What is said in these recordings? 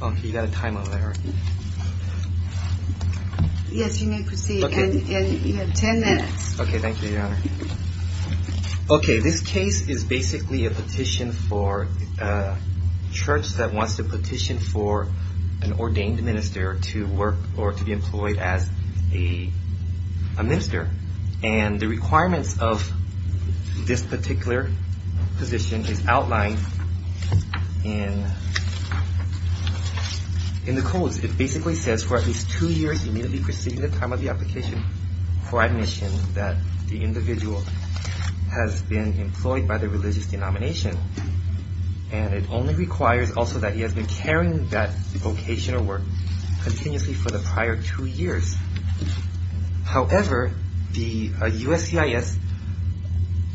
Okay, you got a time out there. Yes, you may proceed. You have ten minutes. Okay, thank you, Your Honor. Okay, this case is basically a petition for a church that wants to petition for an ordained minister to work or to be employed as a minister. And the requirements of this particular position is outlined in the codes. It basically says for at least two years immediately preceding the time of the application for admission that the individual has been employed by the religious denomination. And it only requires also that he has been carrying that vocation or work continuously for the prior two years. However, the USCIS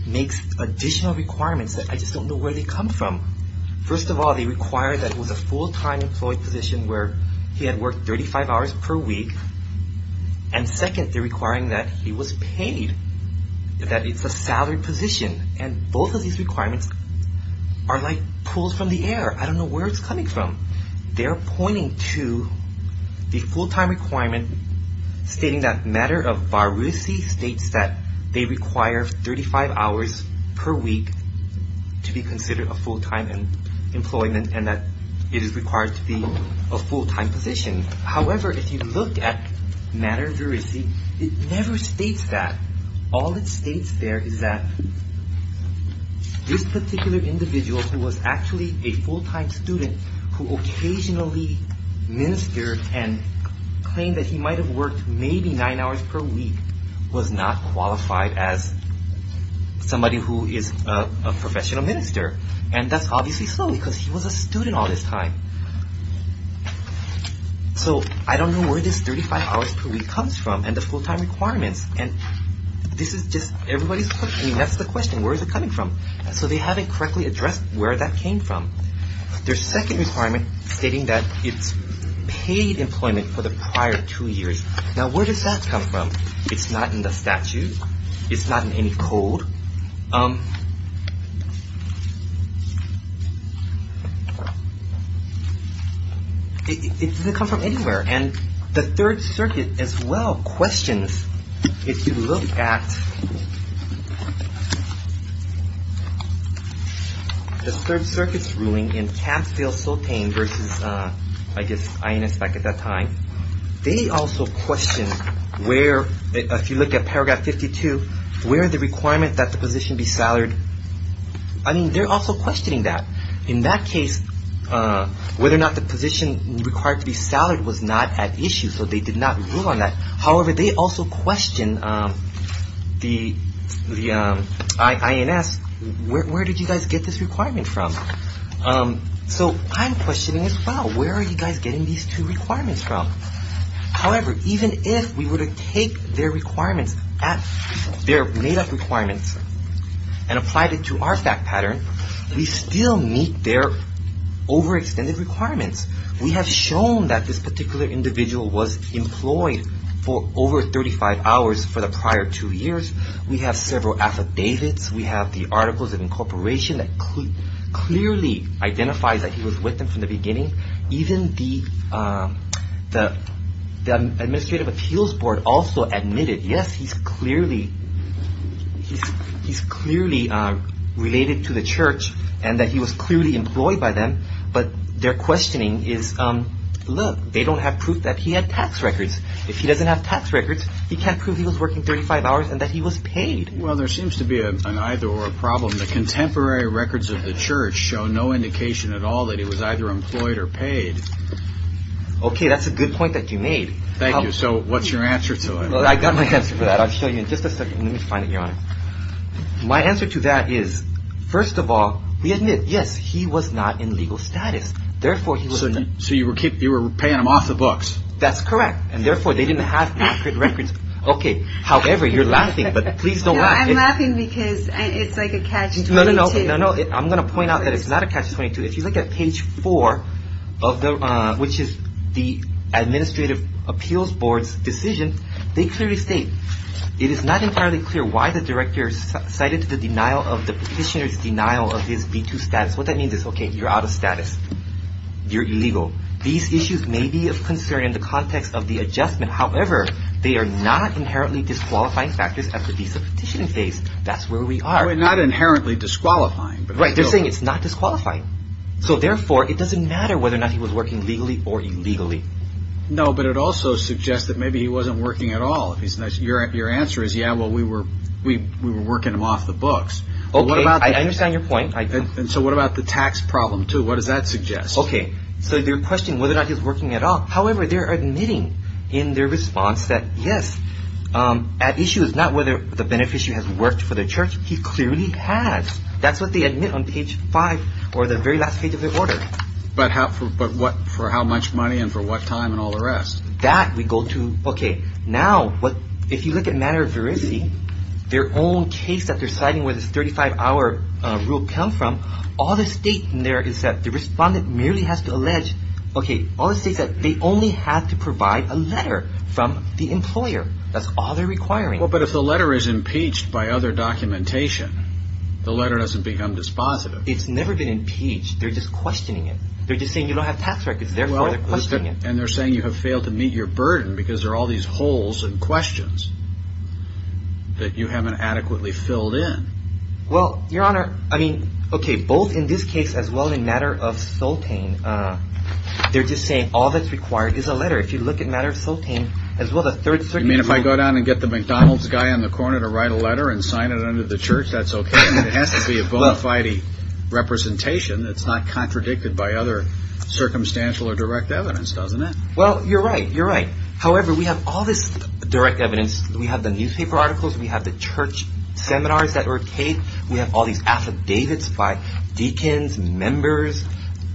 makes additional requirements that I just don't know where they come from. First of all, they require that it was a full-time employed position where he had worked 35 hours per week. And second, they're requiring that he was paid, that it's a salaried position. And both of these requirements are like pulls from the air. I don't know where it's coming from. They're pointing to the full-time requirement stating that Matter of Viracy states that they require 35 hours per week to be considered a full-time employment and that it is required to be a full-time position. However, if you look at Matter of Viracy, it never states that. All it states there is that this particular individual who was actually a full-time student who occasionally ministered and claimed that he might have worked maybe nine hours per week was not qualified as somebody who is a professional minister. And that's obviously so because he was a student all this time. So I don't know where this 35 hours per week comes from and the full-time requirements. And this is just everybody's question. That's the question. Where is it coming from? So they haven't correctly addressed where that came from. Their second requirement stating that it's paid employment for the prior two years. Now, where does that come from? It's not in the statute. It's not in any code. It doesn't come from anywhere. And the Third Circuit as well questions. If you look at the Third Circuit's ruling in Tamsville-Sultane versus, I guess, INS back at that time. They also question where, if you look at paragraph 52, where the requirement that the position be salaried. I mean, they're also questioning that. In that case, whether or not the position required to be salaried was not at issue. So they did not rule on that. However, they also question the INS. Where did you guys get this requirement from? So I'm questioning as well. Where are you guys getting these two requirements from? However, even if we were to take their made-up requirements and apply it to our fact pattern, we still meet their overextended requirements. We have shown that this particular individual was employed for over 35 hours for the prior two years. We have several affidavits. We have the articles of incorporation that clearly identify that he was with them from the beginning. Even the Administrative Appeals Board also admitted, yes, he's clearly related to the church and that he was clearly employed by them. But their questioning is, look, they don't have proof that he had tax records. If he doesn't have tax records, he can't prove he was working 35 hours and that he was paid. Well, there seems to be an either or problem. The contemporary records of the church show no indication at all that he was either employed or paid. OK, that's a good point that you made. Thank you. So what's your answer to it? I got my answer for that. I'll show you in just a second. Let me find it here. My answer to that is, first of all, we admit, yes, he was not in legal status. Therefore, he was. So you were paying him off the books. That's correct. And therefore, they didn't have accurate records. OK, however, you're laughing, but please don't laugh. I'm laughing because it's like a catch 22. No, no, no. I'm going to point out that it's not a catch 22. If you look at page four of the which is the Administrative Appeals Board's decision, they clearly state it is not entirely clear why the director cited the denial of the petitioner's denial of his B2 status. What that means is, OK, you're out of status. You're illegal. These issues may be of concern in the context of the adjustment. However, they are not inherently disqualifying factors at the visa petition phase. That's where we are. We're not inherently disqualifying. Right. They're saying it's not disqualifying. So therefore, it doesn't matter whether or not he was working legally or illegally. No, but it also suggests that maybe he wasn't working at all. Your answer is, yeah, well, we were we were working him off the books. OK, I understand your point. And so what about the tax problem, too? What does that suggest? OK, so they're questioning whether or not he's working at all. However, they're admitting in their response that, yes, at issue is not whether the beneficiary has worked for the church. He clearly has. That's what they admit on page five or the very last page of the order. But how but what for how much money and for what time and all the rest that we go to. OK, now what if you look at matter of veracity, their own case that they're citing where this thirty five hour rule come from, all the state in there is that the respondent merely has to allege. OK, all this is that they only have to provide a letter from the employer. That's all they're requiring. Well, but if the letter is impeached by other documentation, the letter doesn't become dispositive. It's never been impeached. They're just questioning it. They're just saying you don't have tax records. And they're saying you have failed to meet your burden because there are all these holes and questions that you haven't adequately filled in. Well, your honor, I mean, OK, both in this case as well in matter of soul pain. They're just saying all that's required is a letter. If you look at matter of soul pain as well, the third. I mean, if I go down and get the McDonald's guy on the corner to write a letter and sign it under the church, that's OK. It has to be a bona fide representation that's not contradicted by other circumstantial or direct evidence, doesn't it? Well, you're right. You're right. However, we have all this direct evidence. We have the newspaper articles. We have the church seminars that were paid. We have all these affidavits by deacons and members.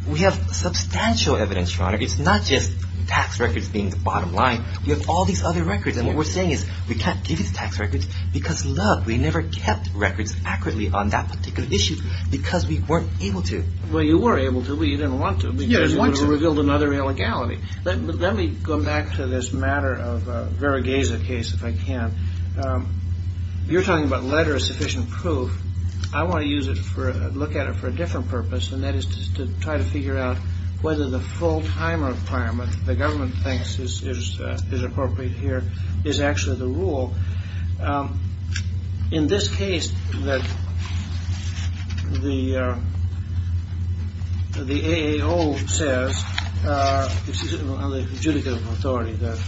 We have substantial evidence. It's not just tax records being the bottom line. We have all these other records. And what we're saying is we can't give you the tax records because love. We never kept records accurately on that particular issue because we weren't able to. Well, you were able to. We didn't want to be revealed another illegality. Let me go back to this matter of very gaze a case if I can. You're talking about letter of sufficient proof. I want to use it for a look at it for a different purpose. And that is to try to figure out whether the full time requirement the government thinks is appropriate here is actually the rule. In this case that the the A.A.O. says. This is on the adjudicative authority that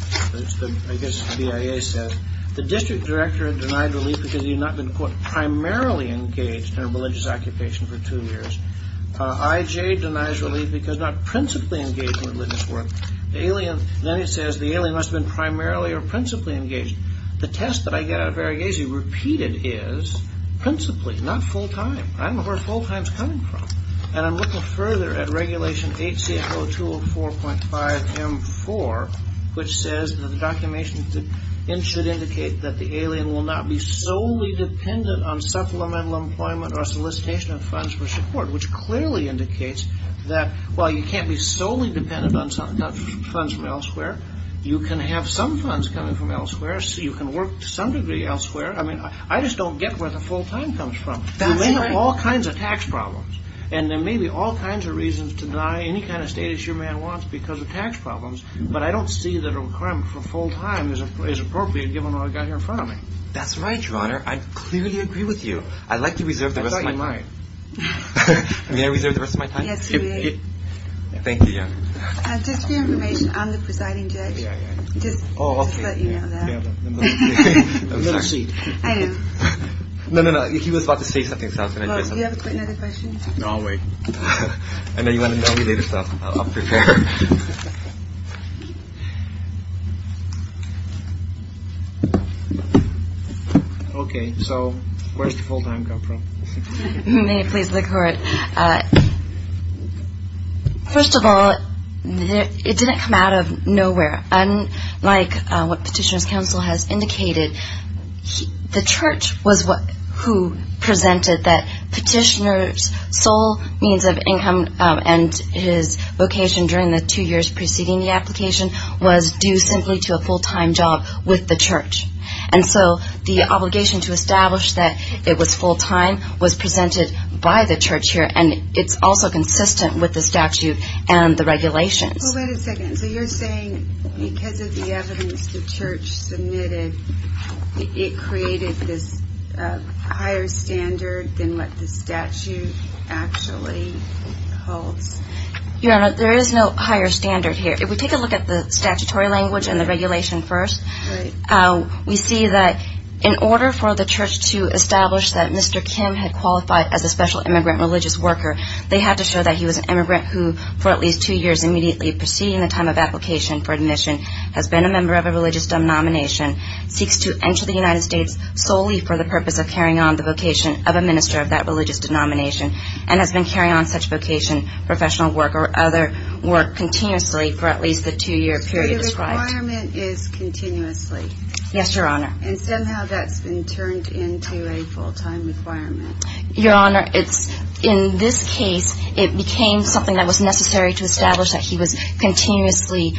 I guess the A.A. says the district director denied relief because he had not been primarily engaged in a religious occupation for two years. I.J. denies relief because not principally engaged in religious work. Alien. Then he says the alien must have been primarily or principally engaged. The test that I get out of very easy repeated is principally not full time. I'm a horse full times coming from. And I'm looking further at Regulation 8 0 2 0 4 0 4 0 4 which says the documentation should indicate that the alien will not be solely dependent on supplemental employment or solicitation of funds for support which clearly indicates that. Well you can't be solely dependent on some funds from elsewhere. You can have some funds coming from elsewhere so you can work to some degree elsewhere. I mean I just don't get where the full time comes from. All kinds of tax problems. And there may be all kinds of reasons to deny any kind of status your man wants because of tax problems. But I don't see that a requirement for full time is appropriate given what I got here in front of me. That's right. Your Honor. I clearly agree with you. I'd like to reserve the rest of my mind. I mean I reserve the rest of my time. Thank you. Just for your information. I'm the presiding judge. No. No. No. He was about to say something. So you have another question. No way. And then you want to know me later. OK. So where's the full time come from. May it please the court. First of all it didn't come out of nowhere. And like what petitioners counsel has indicated the church was what who presented that petitioners soul means of income and his vocation during the two years preceding the application was due simply to a full time job with the church. And so the obligation to establish that it was full time was presented by the church here. And it's also consistent with the statute and the regulations. So you're saying because of the evidence the church submitted it created this higher standard than what the statute actually holds. Your Honor there is no higher standard here. If we take a look at the statutory language and the regulation first we see that in order for the church to establish that Mr. Kim had qualified as a special immigrant religious worker. They had to show that he was an immigrant who for at least two years immediately preceding the time of application for admission has been a member of a religious denomination seeks to enter the United States solely for the purpose of carrying on the vocation of a minister of that religious denomination. And has been carrying on such vocation professional work or other work continuously for at least the two year period described. The requirement is continuously? Yes Your Honor. And somehow that's been turned into a full time requirement? Your Honor it's in this case it became something that was necessary to establish that he was continuously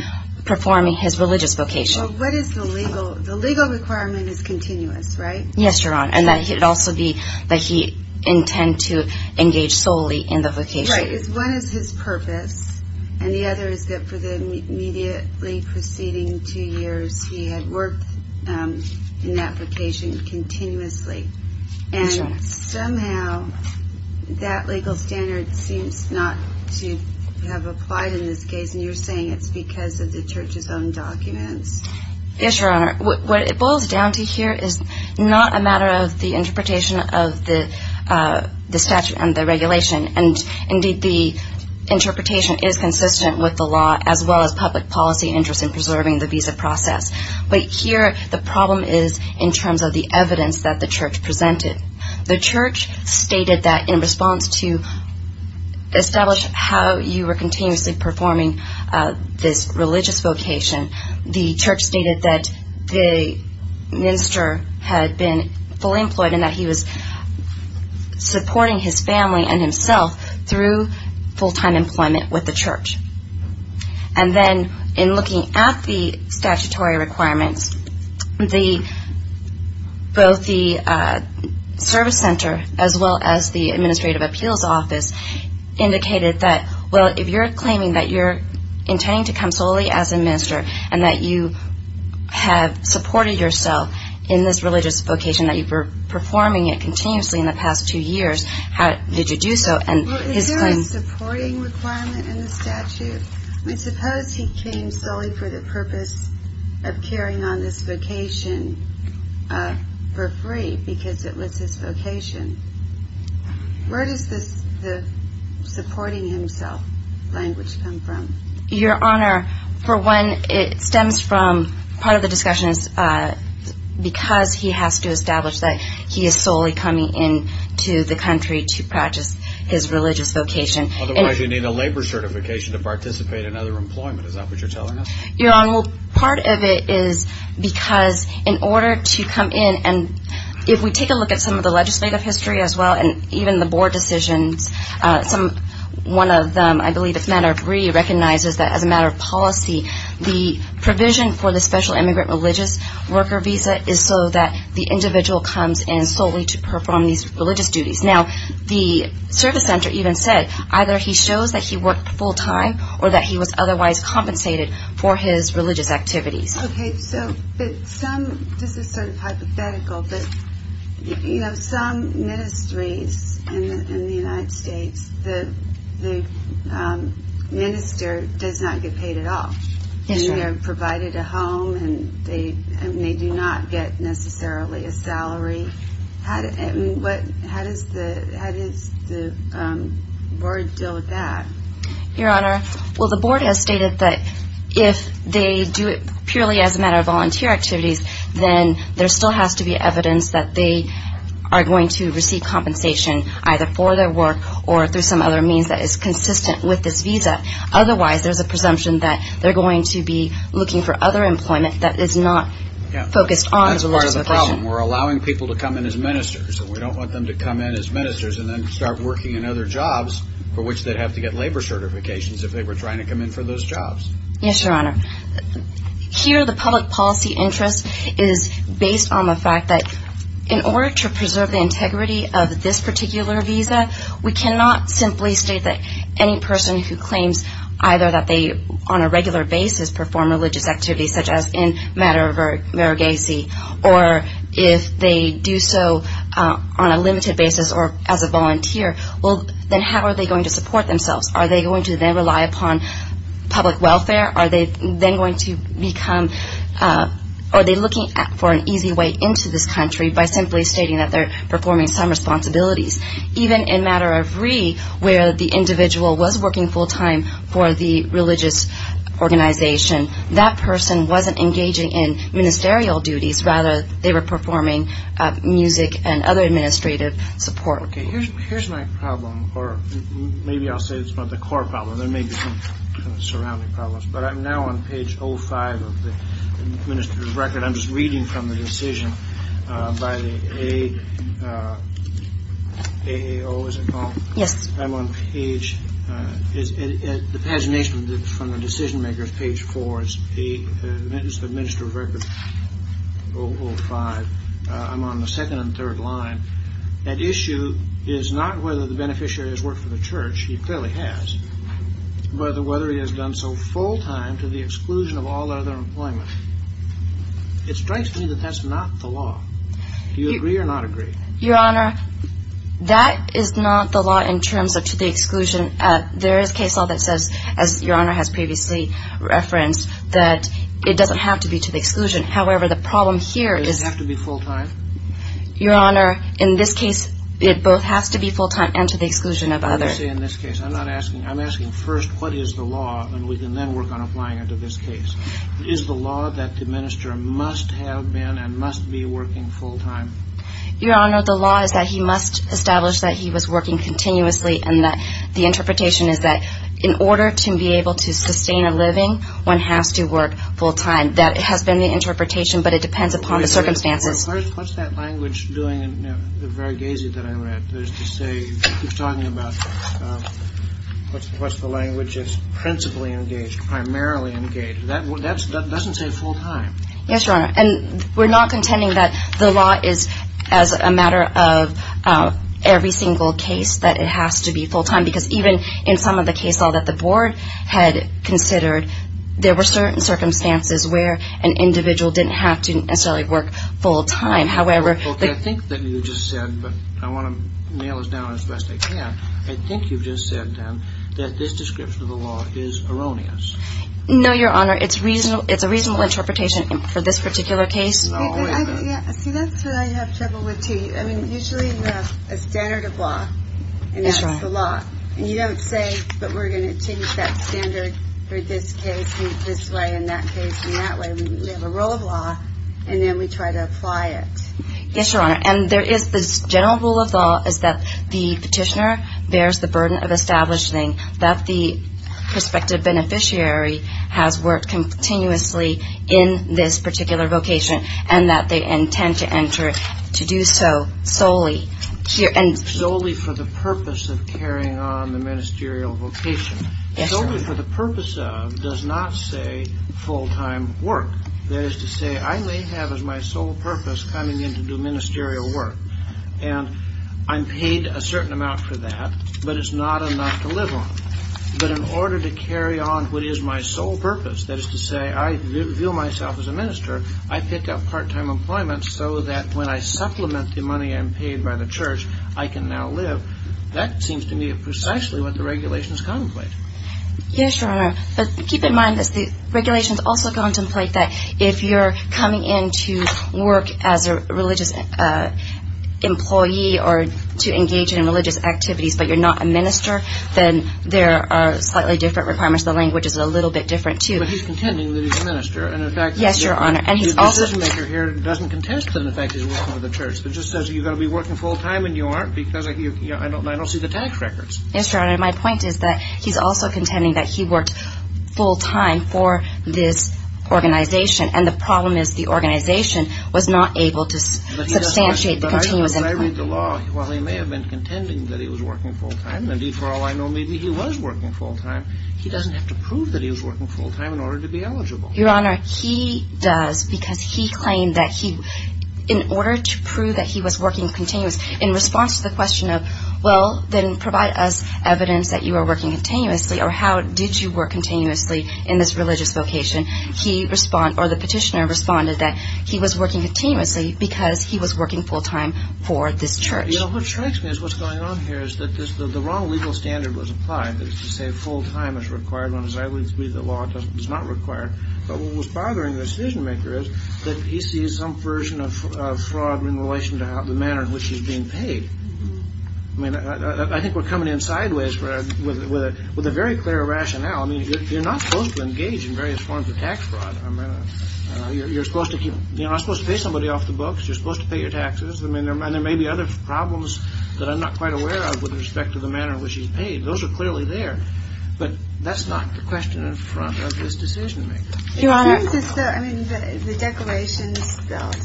performing his religious vocation. What is the legal requirement is continuous right? Yes Your Honor and that he would also be that he intend to engage solely in the vocation. Right. One is his purpose and the other is that for the immediately preceding two years he had worked in that vocation continuously. And somehow that legal standard seems not to have applied in this case and you're saying it's because of the church's own documents? Yes Your Honor. What it boils down to here is not a matter of the interpretation of the statute and the regulation. And indeed the interpretation is consistent with the law as well as public policy interest in preserving the visa process. But here the problem is in terms of the evidence that the church presented. The church stated that in response to establish how you were continuously performing this religious vocation. The church stated that the minister had been fully employed and that he was supporting his family and himself through full time employment with the church. And then in looking at the statutory requirements. Both the service center as well as the administrative appeals office indicated that well if you're claiming that you're intending to come solely as a minister. And that you have supported yourself in this religious vocation that you were performing it continuously in the past two years. How did you do so? Is there a supporting requirement in the statute? I suppose he came solely for the purpose of carrying on this vocation for free because it was his vocation. Where does this supporting himself language come from? Your honor for one it stems from part of the discussion is because he has to establish that he is solely coming in to the country to practice his religious vocation. Otherwise you need a labor certification to participate in other employment is that what you're telling us? Your honor part of it is because in order to come in and if we take a look at some of the legislative history as well. And even the board decisions some one of them I believe if not agree recognizes that as a matter of policy. The provision for the special immigrant religious worker visa is so that the individual comes in solely to perform these religious duties. Now the service center even said either he shows that he worked full time or that he was otherwise compensated for his religious activities. This is sort of hypothetical but some ministries in the United States the minister does not get paid at all. They are provided a home and they do not get necessarily a salary. How does the board deal with that? Your honor well the board has stated that if they do it purely as a matter of volunteer activities. Then there still has to be evidence that they are going to receive compensation either for their work or through some other means that is consistent with this visa. Otherwise there's a presumption that they're going to be looking for other employment that is not focused on religious vocation. We're allowing people to come in as ministers and we don't want them to come in as ministers and then start working in other jobs. For which they'd have to get labor certifications if they were trying to come in for those jobs. Yes your honor here the public policy interest is based on the fact that in order to preserve the integrity of this particular visa. We cannot simply state that any person who claims either that they on a regular basis perform religious activities. Such as in matter of Varughese or if they do so on a limited basis or as a volunteer. Well then how are they going to support themselves? Are they going to then rely upon public welfare? Are they then going to become or are they looking for an easy way into this country by simply stating that they're performing some responsibilities. Even in matter of re where the individual was working full time for the religious organization. That person wasn't engaging in ministerial duties rather they were performing music and other administrative support. Okay here's my problem or maybe I'll say it's not the core problem. There may be some surrounding problems but I'm now on page 05 of the minister's record. I'm just reading from the decision by the AAO is it called? Yes. I'm on page the pagination from the decision makers page 4 is the minister's record 05. I'm on the second and third line. That issue is not whether the beneficiary has worked for the church. He clearly has. But whether he has done so full time to the exclusion of all other employment. It strikes me that that's not the law. Do you agree or not agree? Your honor that is not the law in terms of to the exclusion. There is case law that says as your honor has previously referenced that it doesn't have to be to the exclusion. However the problem here is. Does it have to be full time? Your honor in this case it both has to be full time and to the exclusion of others. Let me say in this case I'm not asking. I'm asking first what is the law and we can then work on applying it to this case. Is the law that the minister must have been and must be working full time? Your honor the law is that he must establish that he was working continuously. And that the interpretation is that in order to be able to sustain a living one has to work full time. That has been the interpretation. But it depends upon the circumstances. What's that language doing? Very gazy that I read. There's to say he's talking about what's the language is principally engaged primarily engaged. That doesn't say full time. Yes your honor. And we're not contending that the law is as a matter of every single case that it has to be full time. Because even in some of the cases that the board had considered. There were certain circumstances where an individual didn't have to necessarily work full time. However. I think that you just said. But I want to nail this down as best I can. I think you've just said that this description of the law is erroneous. No your honor. It's a reasonable interpretation for this particular case. See that's what I have trouble with too. Usually we have a standard of law. And that's the law. And you don't say. But we're going to change that standard for this case and this way and that case and that way. We have a rule of law. And then we try to apply it. Yes your honor. And there is this general rule of law is that the petitioner bears the burden of establishing. That the prospective beneficiary has worked continuously in this particular vocation. And that they intend to enter to do so solely. Solely for the purpose of carrying on the ministerial vocation. Yes your honor. Solely for the purpose of does not say full time work. That is to say I may have as my sole purpose coming in to do ministerial work. And I'm paid a certain amount for that. But it's not enough to live on. But in order to carry on what is my sole purpose. That is to say I view myself as a minister. I pick up part time employment so that when I supplement the money I'm paid by the church. I can now live. That seems to me precisely what the regulations contemplate. Yes your honor. But keep in mind that the regulations also contemplate that. If you're coming in to work as a religious employee. Or to engage in religious activities. But you're not a minister. Then there are slightly different requirements. The language is a little bit different too. But he's contending that he's a minister. Yes your honor. And he's also. The decision maker here doesn't contest the fact that he's working for the church. But just says you've got to be working full time. And you aren't because I don't see the tax records. Yes your honor. My point is that he's also contending that he worked full time for this organization. And the problem is the organization was not able to substantiate the continuous employment. Well he may have been contending that he was working full time. Indeed for all I know maybe he was working full time. He doesn't have to prove that he was working full time in order to be eligible. Your honor he does. Because he claimed that he. In order to prove that he was working continuous. In response to the question of. Well then provide us evidence that you are working continuously. Or how did you work continuously in this religious vocation. He responded. Or the petitioner responded that. He was working continuously. Because he was working full time for this church. You know what strikes me is what's going on here. Is that the wrong legal standard was applied. That is to say full time is required when as I would agree the law does not require. But what was bothering the decision maker is. That he sees some version of fraud in relation to the manner in which he's being paid. I mean I think we're coming in sideways with a very clear rationale. I mean you're not supposed to engage in various forms of tax fraud. You're supposed to keep. You're not supposed to pay somebody off the books. You're supposed to pay your taxes. I mean there may be other problems. That I'm not quite aware of with respect to the manner in which he's paid. Those are clearly there. But that's not the question in front of this decision maker. Your honor. I mean the declarations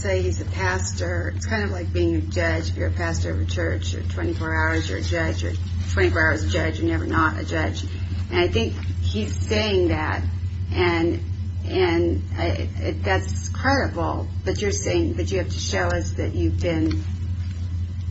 say he's a pastor. It's kind of like being a judge. If you're a pastor of a church. You're 24 hours you're a judge. You're 24 hours a judge. You're never not a judge. And I think he's saying that. And that's credible. But you're saying that you have to show us that you've been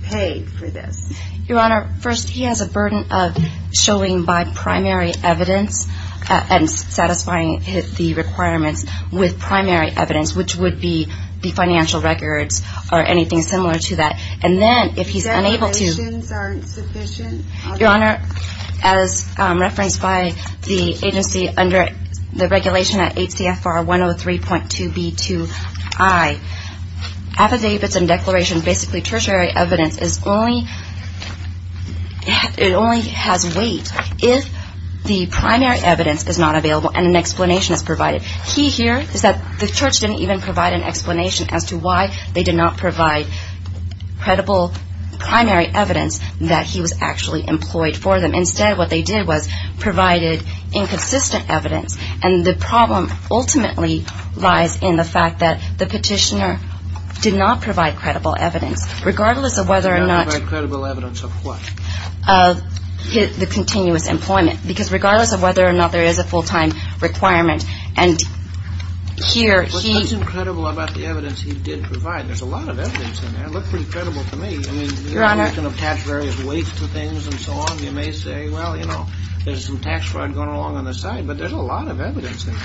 paid for this. Your honor. First he has a burden of showing by primary evidence. And satisfying the requirements with primary evidence. Which would be the financial records or anything similar to that. And then if he's unable to. The declarations aren't sufficient. Your honor. As referenced by the agency under the regulation at 8 CFR 103.2 B2I. Affidavits and declarations basically tertiary evidence is only. It only has weight. If the primary evidence is not available. And an explanation is provided. Key here is that the church didn't even provide an explanation as to why they did not provide credible primary evidence. That he was actually employed for them. Instead what they did was provided inconsistent evidence. And the problem ultimately lies in the fact that the petitioner did not provide credible evidence. Regardless of whether or not. Not provide credible evidence of what? Of the continuous employment. Because regardless of whether or not there is a full time requirement. And here he. What's incredible about the evidence he did provide. There's a lot of evidence in there. It looked pretty credible to me. Your honor. You can attach various weights to things and so on. You may say. Well you know. There's some tax fraud going along on the side. But there's a lot of evidence in there.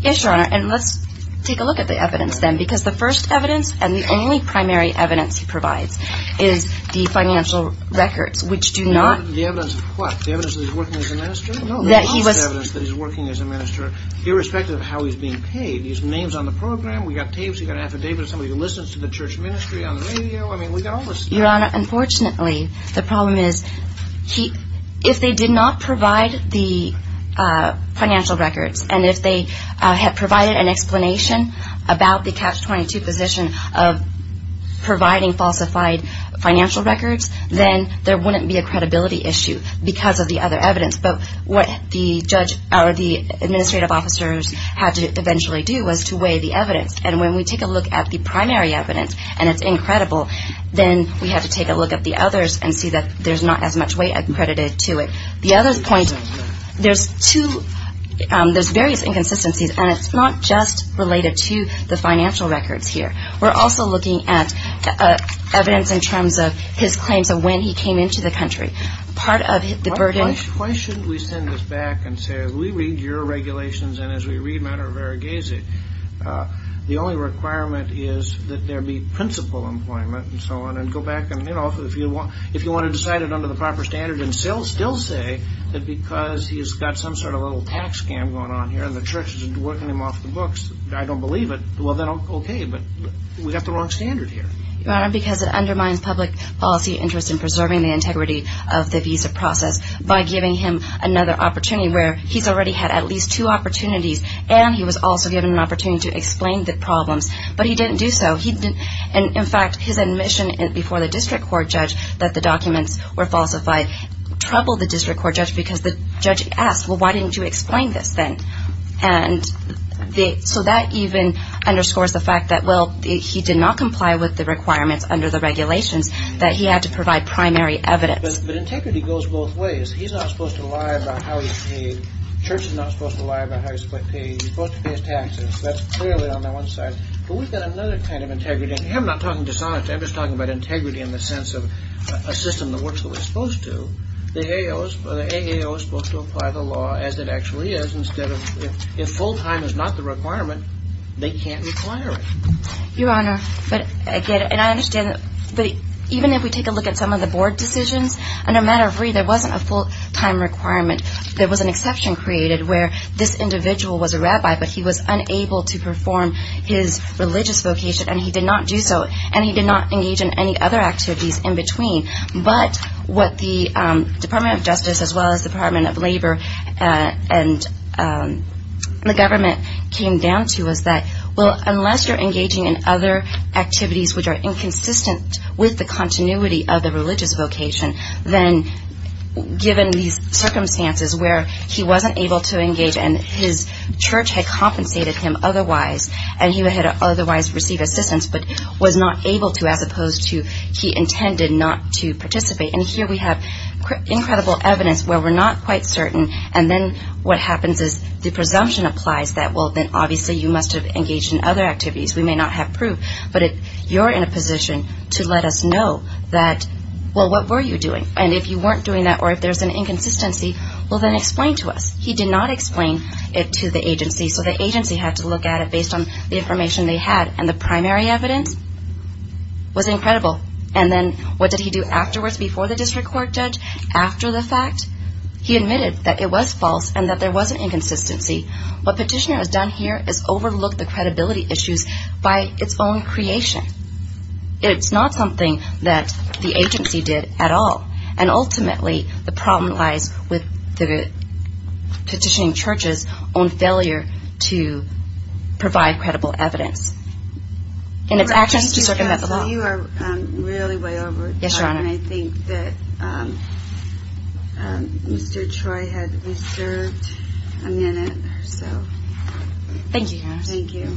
Yes your honor. And let's take a look at the evidence then. Because the first evidence. And the only primary evidence he provides. Is the financial records. Which do not. The evidence of what? The evidence that he's working as a minister? No. That he was. The last evidence that he's working as a minister. Irrespective of how he's being paid. He's names on the program. We got tapes. We got affidavits. Somebody listens to the church ministry on the radio. I mean we got all this stuff. Your honor. Unfortunately. The problem is. If they did not provide the financial records. And if they had provided an explanation. About the catch 22 position. Of providing falsified financial records. Then there wouldn't be a credibility issue. Because of the other evidence. But what the judge. Or the administrative officers. Had to eventually do. Was to weigh the evidence. And when we take a look at the primary evidence. And it's incredible. Then we have to take a look at the others. And see that there's not as much weight accredited to it. The other point. There's two. There's various inconsistencies. And it's not just related to the financial records here. We're also looking at evidence in terms of. His claims of when he came into the country. Part of the burden. Why shouldn't we send this back. And say as we read your regulations. And as we read matter of variegated. The only requirement is that there be principal employment. And so on. And go back. And if you want to decide it under the proper standard. And still say. That because he's got some sort of little tax scam going on here. And the church is working him off the books. I don't believe it. Well then okay. But we have the wrong standard here. Your honor because it undermines public policy interest. In preserving the integrity of the visa process. By giving him another opportunity. Where he's already had at least two opportunities. And he was also given an opportunity to explain the problems. But he didn't do so. And in fact his admission before the district court judge. That the documents were falsified. Troubled the district court judge. Because the judge asked well why didn't you explain this then. And so that even underscores the fact that. Well he did not comply with the requirements under the regulations. That he had to provide primary evidence. But integrity goes both ways. He's not supposed to lie about how he's paid. The church is not supposed to lie about how he's paid. He's supposed to pay his taxes. That's clearly on the one side. But we've got another kind of integrity. And here I'm not talking dishonesty. I'm just talking about integrity in the sense of. A system that works the way it's supposed to. The A.A.O. is supposed to apply the law as it actually is. Instead of if full time is not the requirement. They can't require it. Your honor. But I get it. And I understand that. But even if we take a look at some of the board decisions. And no matter. There wasn't a full time requirement. There was an exception created where this individual was a rabbi. But he was unable to perform his religious vocation. And he did not do so. And he did not engage in any other activities in between. But what the Department of Justice as well as the Department of Labor. And the government came down to was that. Well unless you're engaging in other activities. Which are inconsistent with the continuity of the religious vocation. Then given these circumstances where he wasn't able to engage. And his church had compensated him otherwise. And he had otherwise received assistance. But was not able to as opposed to he intended not to participate. And here we have incredible evidence where we're not quite certain. And then what happens is the presumption applies. That well then obviously you must have engaged in other activities. We may not have proof. But you're in a position to let us know that well what were you doing. And if you weren't doing that or if there's an inconsistency. Well then explain to us. He did not explain it to the agency. So the agency had to look at it based on the information they had. And the primary evidence was incredible. And then what did he do afterwards before the district court judge? After the fact? He admitted that it was false and that there was an inconsistency. What petitioner has done here is overlooked the credibility issues by its own creation. It's not something that the agency did at all. And ultimately the problem lies with the petitioning church's own failure to provide credible evidence. And it's actions to circumvent the law. You are really way over. Yes, Your Honor. I think that Mr. Troy had a minute or so. Thank you. Thank you.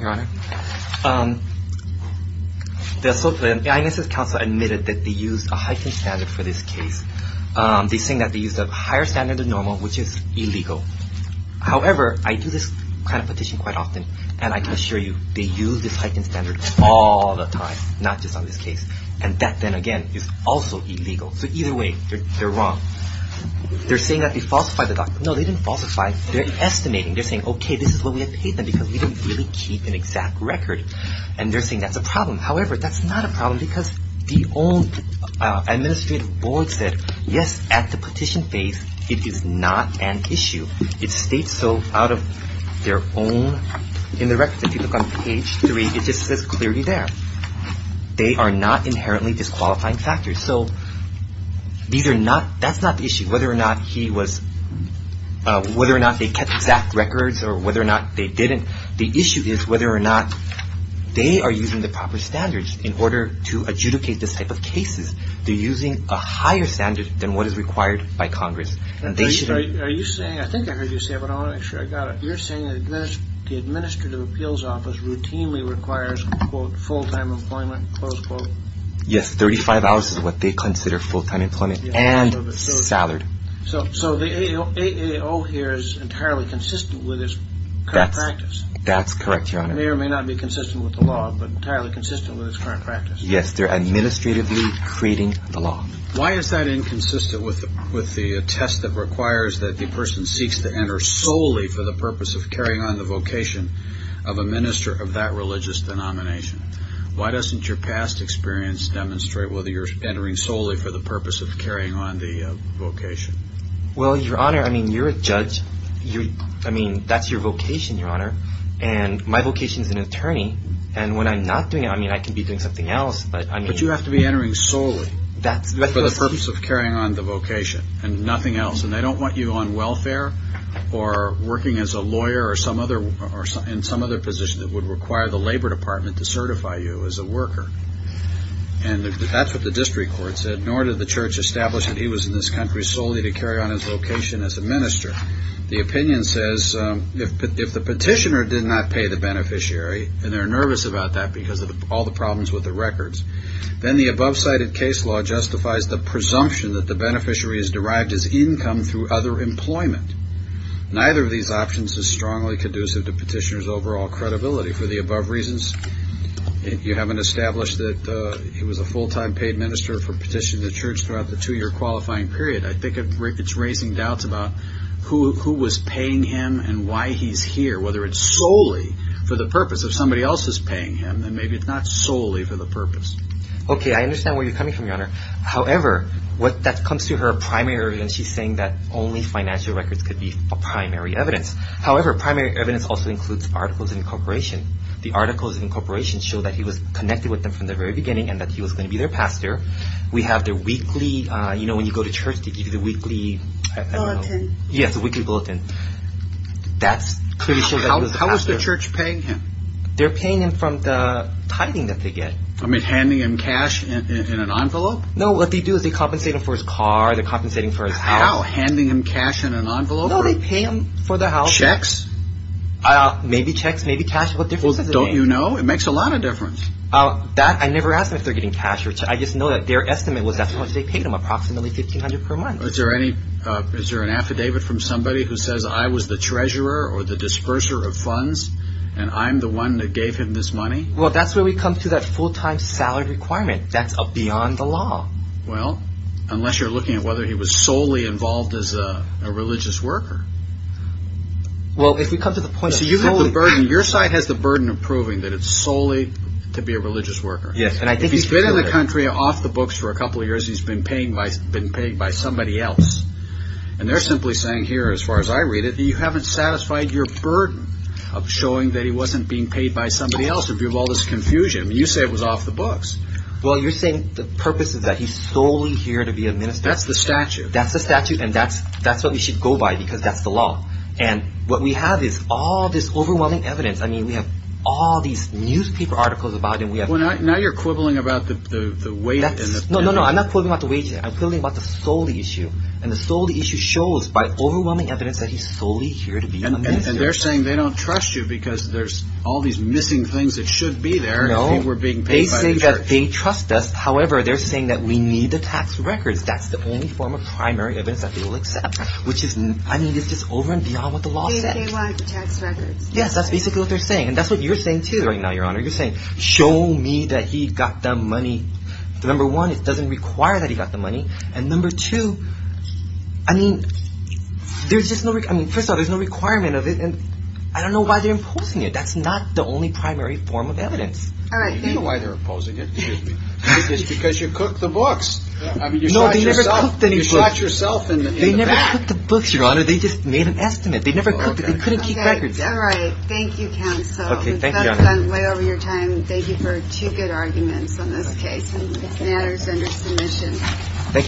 Your Honor, the INSS council admitted that they used a heightened standard for this case. They say that they used a higher standard than normal, which is illegal. However, I do this kind of petition quite often. And I can assure you, they use this heightened standard all the time, not just on this case. And that then again is also illegal. So either way, they're wrong. They're saying that they falsified the document. No, they didn't falsify. They're estimating. They're saying, okay, this is what we have paid them because we didn't really keep an exact record. And they're saying that's a problem. However, that's not a problem because the old administrative board said, Yes, at the petition phase, it is not an issue. It states so out of their own in the record. If you look on page three, it just says clearly there. They are not inherently disqualifying factors. So these are not – that's not the issue, whether or not he was – whether or not they kept exact records or whether or not they didn't. The issue is whether or not they are using the proper standards in order to adjudicate this type of cases. They're using a higher standard than what is required by Congress. And they should – Are you saying – I think I heard you say it, but I want to make sure I got it. You're saying the administrative appeals office routinely requires, quote, full-time employment, close quote. Yes, 35 hours is what they consider full-time employment and salary. So the AAO here is entirely consistent with its current practice. That's correct, Your Honor. It may or may not be consistent with the law, but entirely consistent with its current practice. Yes, they're administratively creating the law. Why is that inconsistent with the test that requires that the person seeks to enter solely for the purpose of carrying on the vocation of a minister of that religious denomination? Why doesn't your past experience demonstrate whether you're entering solely for the purpose of carrying on the vocation? Well, Your Honor, I mean, you're a judge. I mean, that's your vocation, Your Honor. And my vocation is an attorney. And when I'm not doing it, I mean, I could be doing something else, but I mean – But you have to be entering solely for the purpose of carrying on the vocation and nothing else. And they don't want you on welfare or working as a lawyer or some other – in some other position that would require the Labor Department to certify you as a worker. And that's what the district court said, nor did the church establish that he was in this country solely to carry on his vocation as a minister. The opinion says if the petitioner did not pay the beneficiary, and they're nervous about that because of all the problems with the records, then the above-cited case law justifies the presumption that the beneficiary is derived as income through other employment. Neither of these options is strongly conducive to petitioner's overall credibility. For the above reasons, you haven't established that he was a full-time paid minister for petitioning the church throughout the two-year qualifying period. I think it's raising doubts about who was paying him and why he's here, whether it's solely for the purpose of somebody else's paying him, and maybe it's not solely for the purpose. Okay, I understand where you're coming from, Your Honor. However, when that comes to her primary evidence, she's saying that only financial records could be a primary evidence. However, primary evidence also includes articles of incorporation. The articles of incorporation show that he was connected with them from the very beginning and that he was going to be their pastor. We have their weekly – you know, when you go to church, they give you the weekly – Bulletin. Yes, the weekly bulletin. That's pretty sure that he was a pastor. How is the church paying him? They're paying him from the tithing that they get. I mean, handing him cash in an envelope? No, what they do is they compensate him for his car, they're compensating for his house. How? Handing him cash in an envelope? No, they pay him for the house. Checks? Maybe checks, maybe cash. What difference does it make? Well, don't you know? It makes a lot of difference. I never ask them if they're getting cash or – I just know that their estimate was that's how much they paid him, approximately $1,500 per month. Is there any – is there an affidavit from somebody who says, I was the treasurer or the disperser of funds and I'm the one that gave him this money? Well, that's where we come to that full-time salary requirement. That's beyond the law. Well, unless you're looking at whether he was solely involved as a religious worker. Well, if we come to the point that – Your side has the burden of proving that it's solely to be a religious worker. If he's been in the country off the books for a couple of years, he's been paid by somebody else. And they're simply saying here, as far as I read it, that you haven't satisfied your burden of showing that he wasn't being paid by somebody else in view of all this confusion. You say it was off the books. Well, you're saying the purpose is that he's solely here to be a minister. That's the statute. That's the statute and that's what we should go by because that's the law. And what we have is all this overwhelming evidence. I mean, we have all these newspaper articles about him. Now you're quibbling about the wages. No, no, no. I'm not quibbling about the wages. I'm quibbling about the sole issue. And the sole issue shows by overwhelming evidence that he's solely here to be a minister. And they're saying they don't trust you because there's all these missing things that should be there. No, they say that they trust us. However, they're saying that we need the tax records. That's the only form of primary evidence that they will accept. Which is, I mean, it's just over and beyond what the law said. They want the tax records. Yes, that's basically what they're saying. And that's what you're saying, too, right now, Your Honor. You're saying, show me that he got the money. Number one, it doesn't require that he got the money. And number two, I mean, there's just no, I mean, first of all, there's no requirement of it. And I don't know why they're imposing it. That's not the only primary form of evidence. All right. You know why they're imposing it. Excuse me. It's because you cooked the books. I mean, you shot yourself. You shot yourself in the back. They never cooked the books, Your Honor. They just made an estimate. They never cooked it. They couldn't keep records. All right. Thank you, counsel. Okay. Thank you, Your Honor. We've gotten way over your time. Thank you for two good arguments on this case. And this matter is under submission. Thank you.